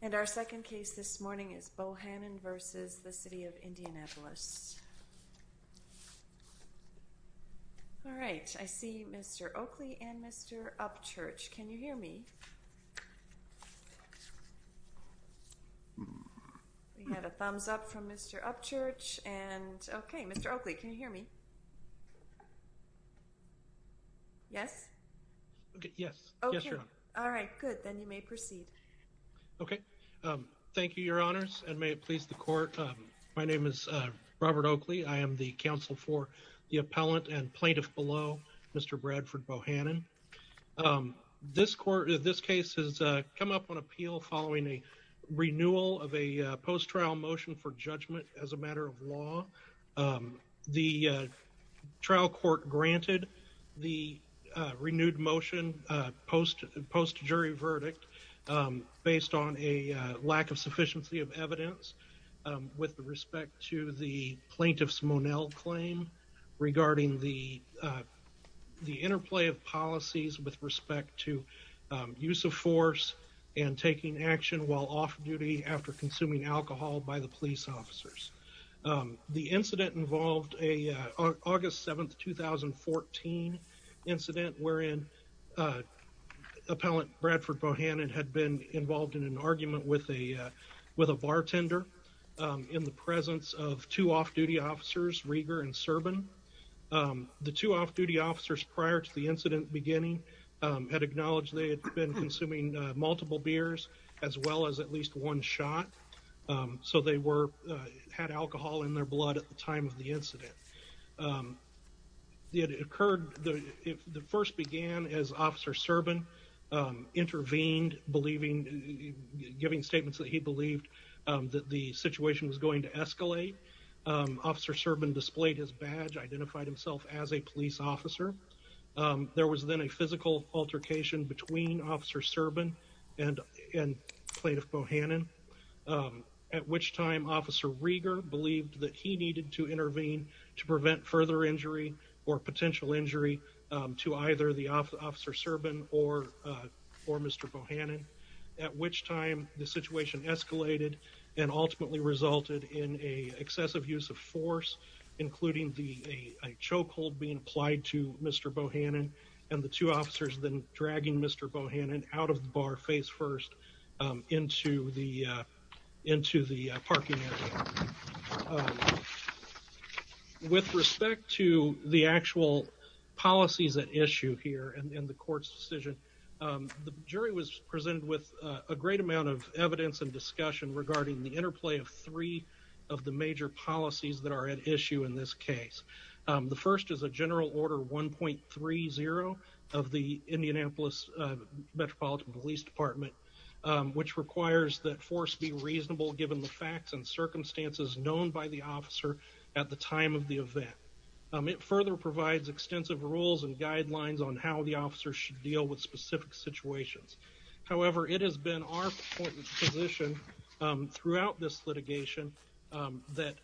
And our second case this morning is Bohanon v. City of Indianapolis All right, I see mr. Oakley and mr. Upchurch, can you hear me? We have a thumbs up from mr. Upchurch and okay, mr. Oakley, can you hear me? Yes Yes, okay, all right good then you may proceed Okay Thank you your honors and may it please the court. My name is Robert Oakley. I am the counsel for the appellant and plaintiff below Mr. Bradford Bohanon This court this case has come up on appeal following a renewal of a post trial motion for judgment as a matter of law the trial court granted the Renewed motion post post jury verdict based on a lack of sufficiency of evidence with respect to the plaintiff's Monell claim regarding the the interplay of policies with respect to Use of force and taking action while off-duty after consuming alcohol by the police officers the incident involved a August 7th 2014 incident wherein Appellant Bradford Bohannon had been involved in an argument with a with a bartender In the presence of two off-duty officers Rieger and Serban The two off-duty officers prior to the incident beginning had acknowledged They had been consuming multiple beers as well as at least one shot So they were had alcohol in their blood at the time of the incident It occurred the first began as officer Serban intervened believing Giving statements that he believed that the situation was going to escalate Officer Serban displayed his badge identified himself as a police officer There was then a physical altercation between officer Serban and and plaintiff Bohannon At which time officer Rieger believed that he needed to intervene to prevent further injury or potential injury to either the officer Serban or Or mr. Bohannon at which time the situation escalated and ultimately resulted in a excessive use of force Including the a chokehold being applied to mr. Bohannon and the two officers then dragging. Mr. Bohannon out of the bar face first Into the into the parking area With respect to the actual policies at issue here and in the court's decision The jury was presented with a great amount of evidence and discussion regarding the interplay of three of the major Policies that are at issue in this case The first is a general order one point three zero of the Indianapolis Metropolitan Police Department Which requires that force be reasonable given the facts and circumstances known by the officer at the time of the event? It further provides extensive rules and guidelines on how the officer should deal with specific situations. However, it has been our position throughout this litigation that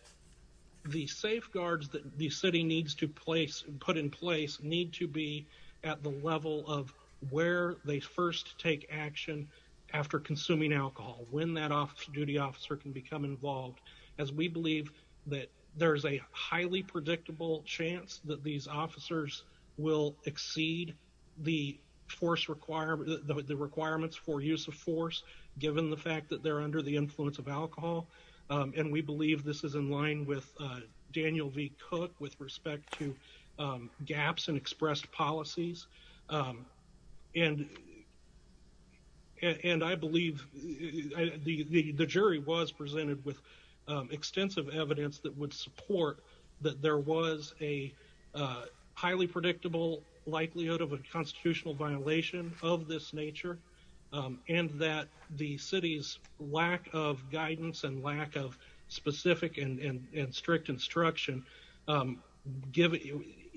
The safeguards that the city needs to place and put in place need to be at the level of where They first take action after consuming alcohol when that officer duty officer can become involved as we believe that There's a highly predictable chance that these officers will exceed the force Require the requirements for use of force given the fact that they're under the influence of alcohol And we believe this is in line with Daniel V Cook with respect to gaps and expressed policies And And I believe the jury was presented with extensive evidence that would support that there was a highly predictable likelihood of a constitutional violation of this nature And that the city's lack of guidance and lack of specific and strict instruction Give it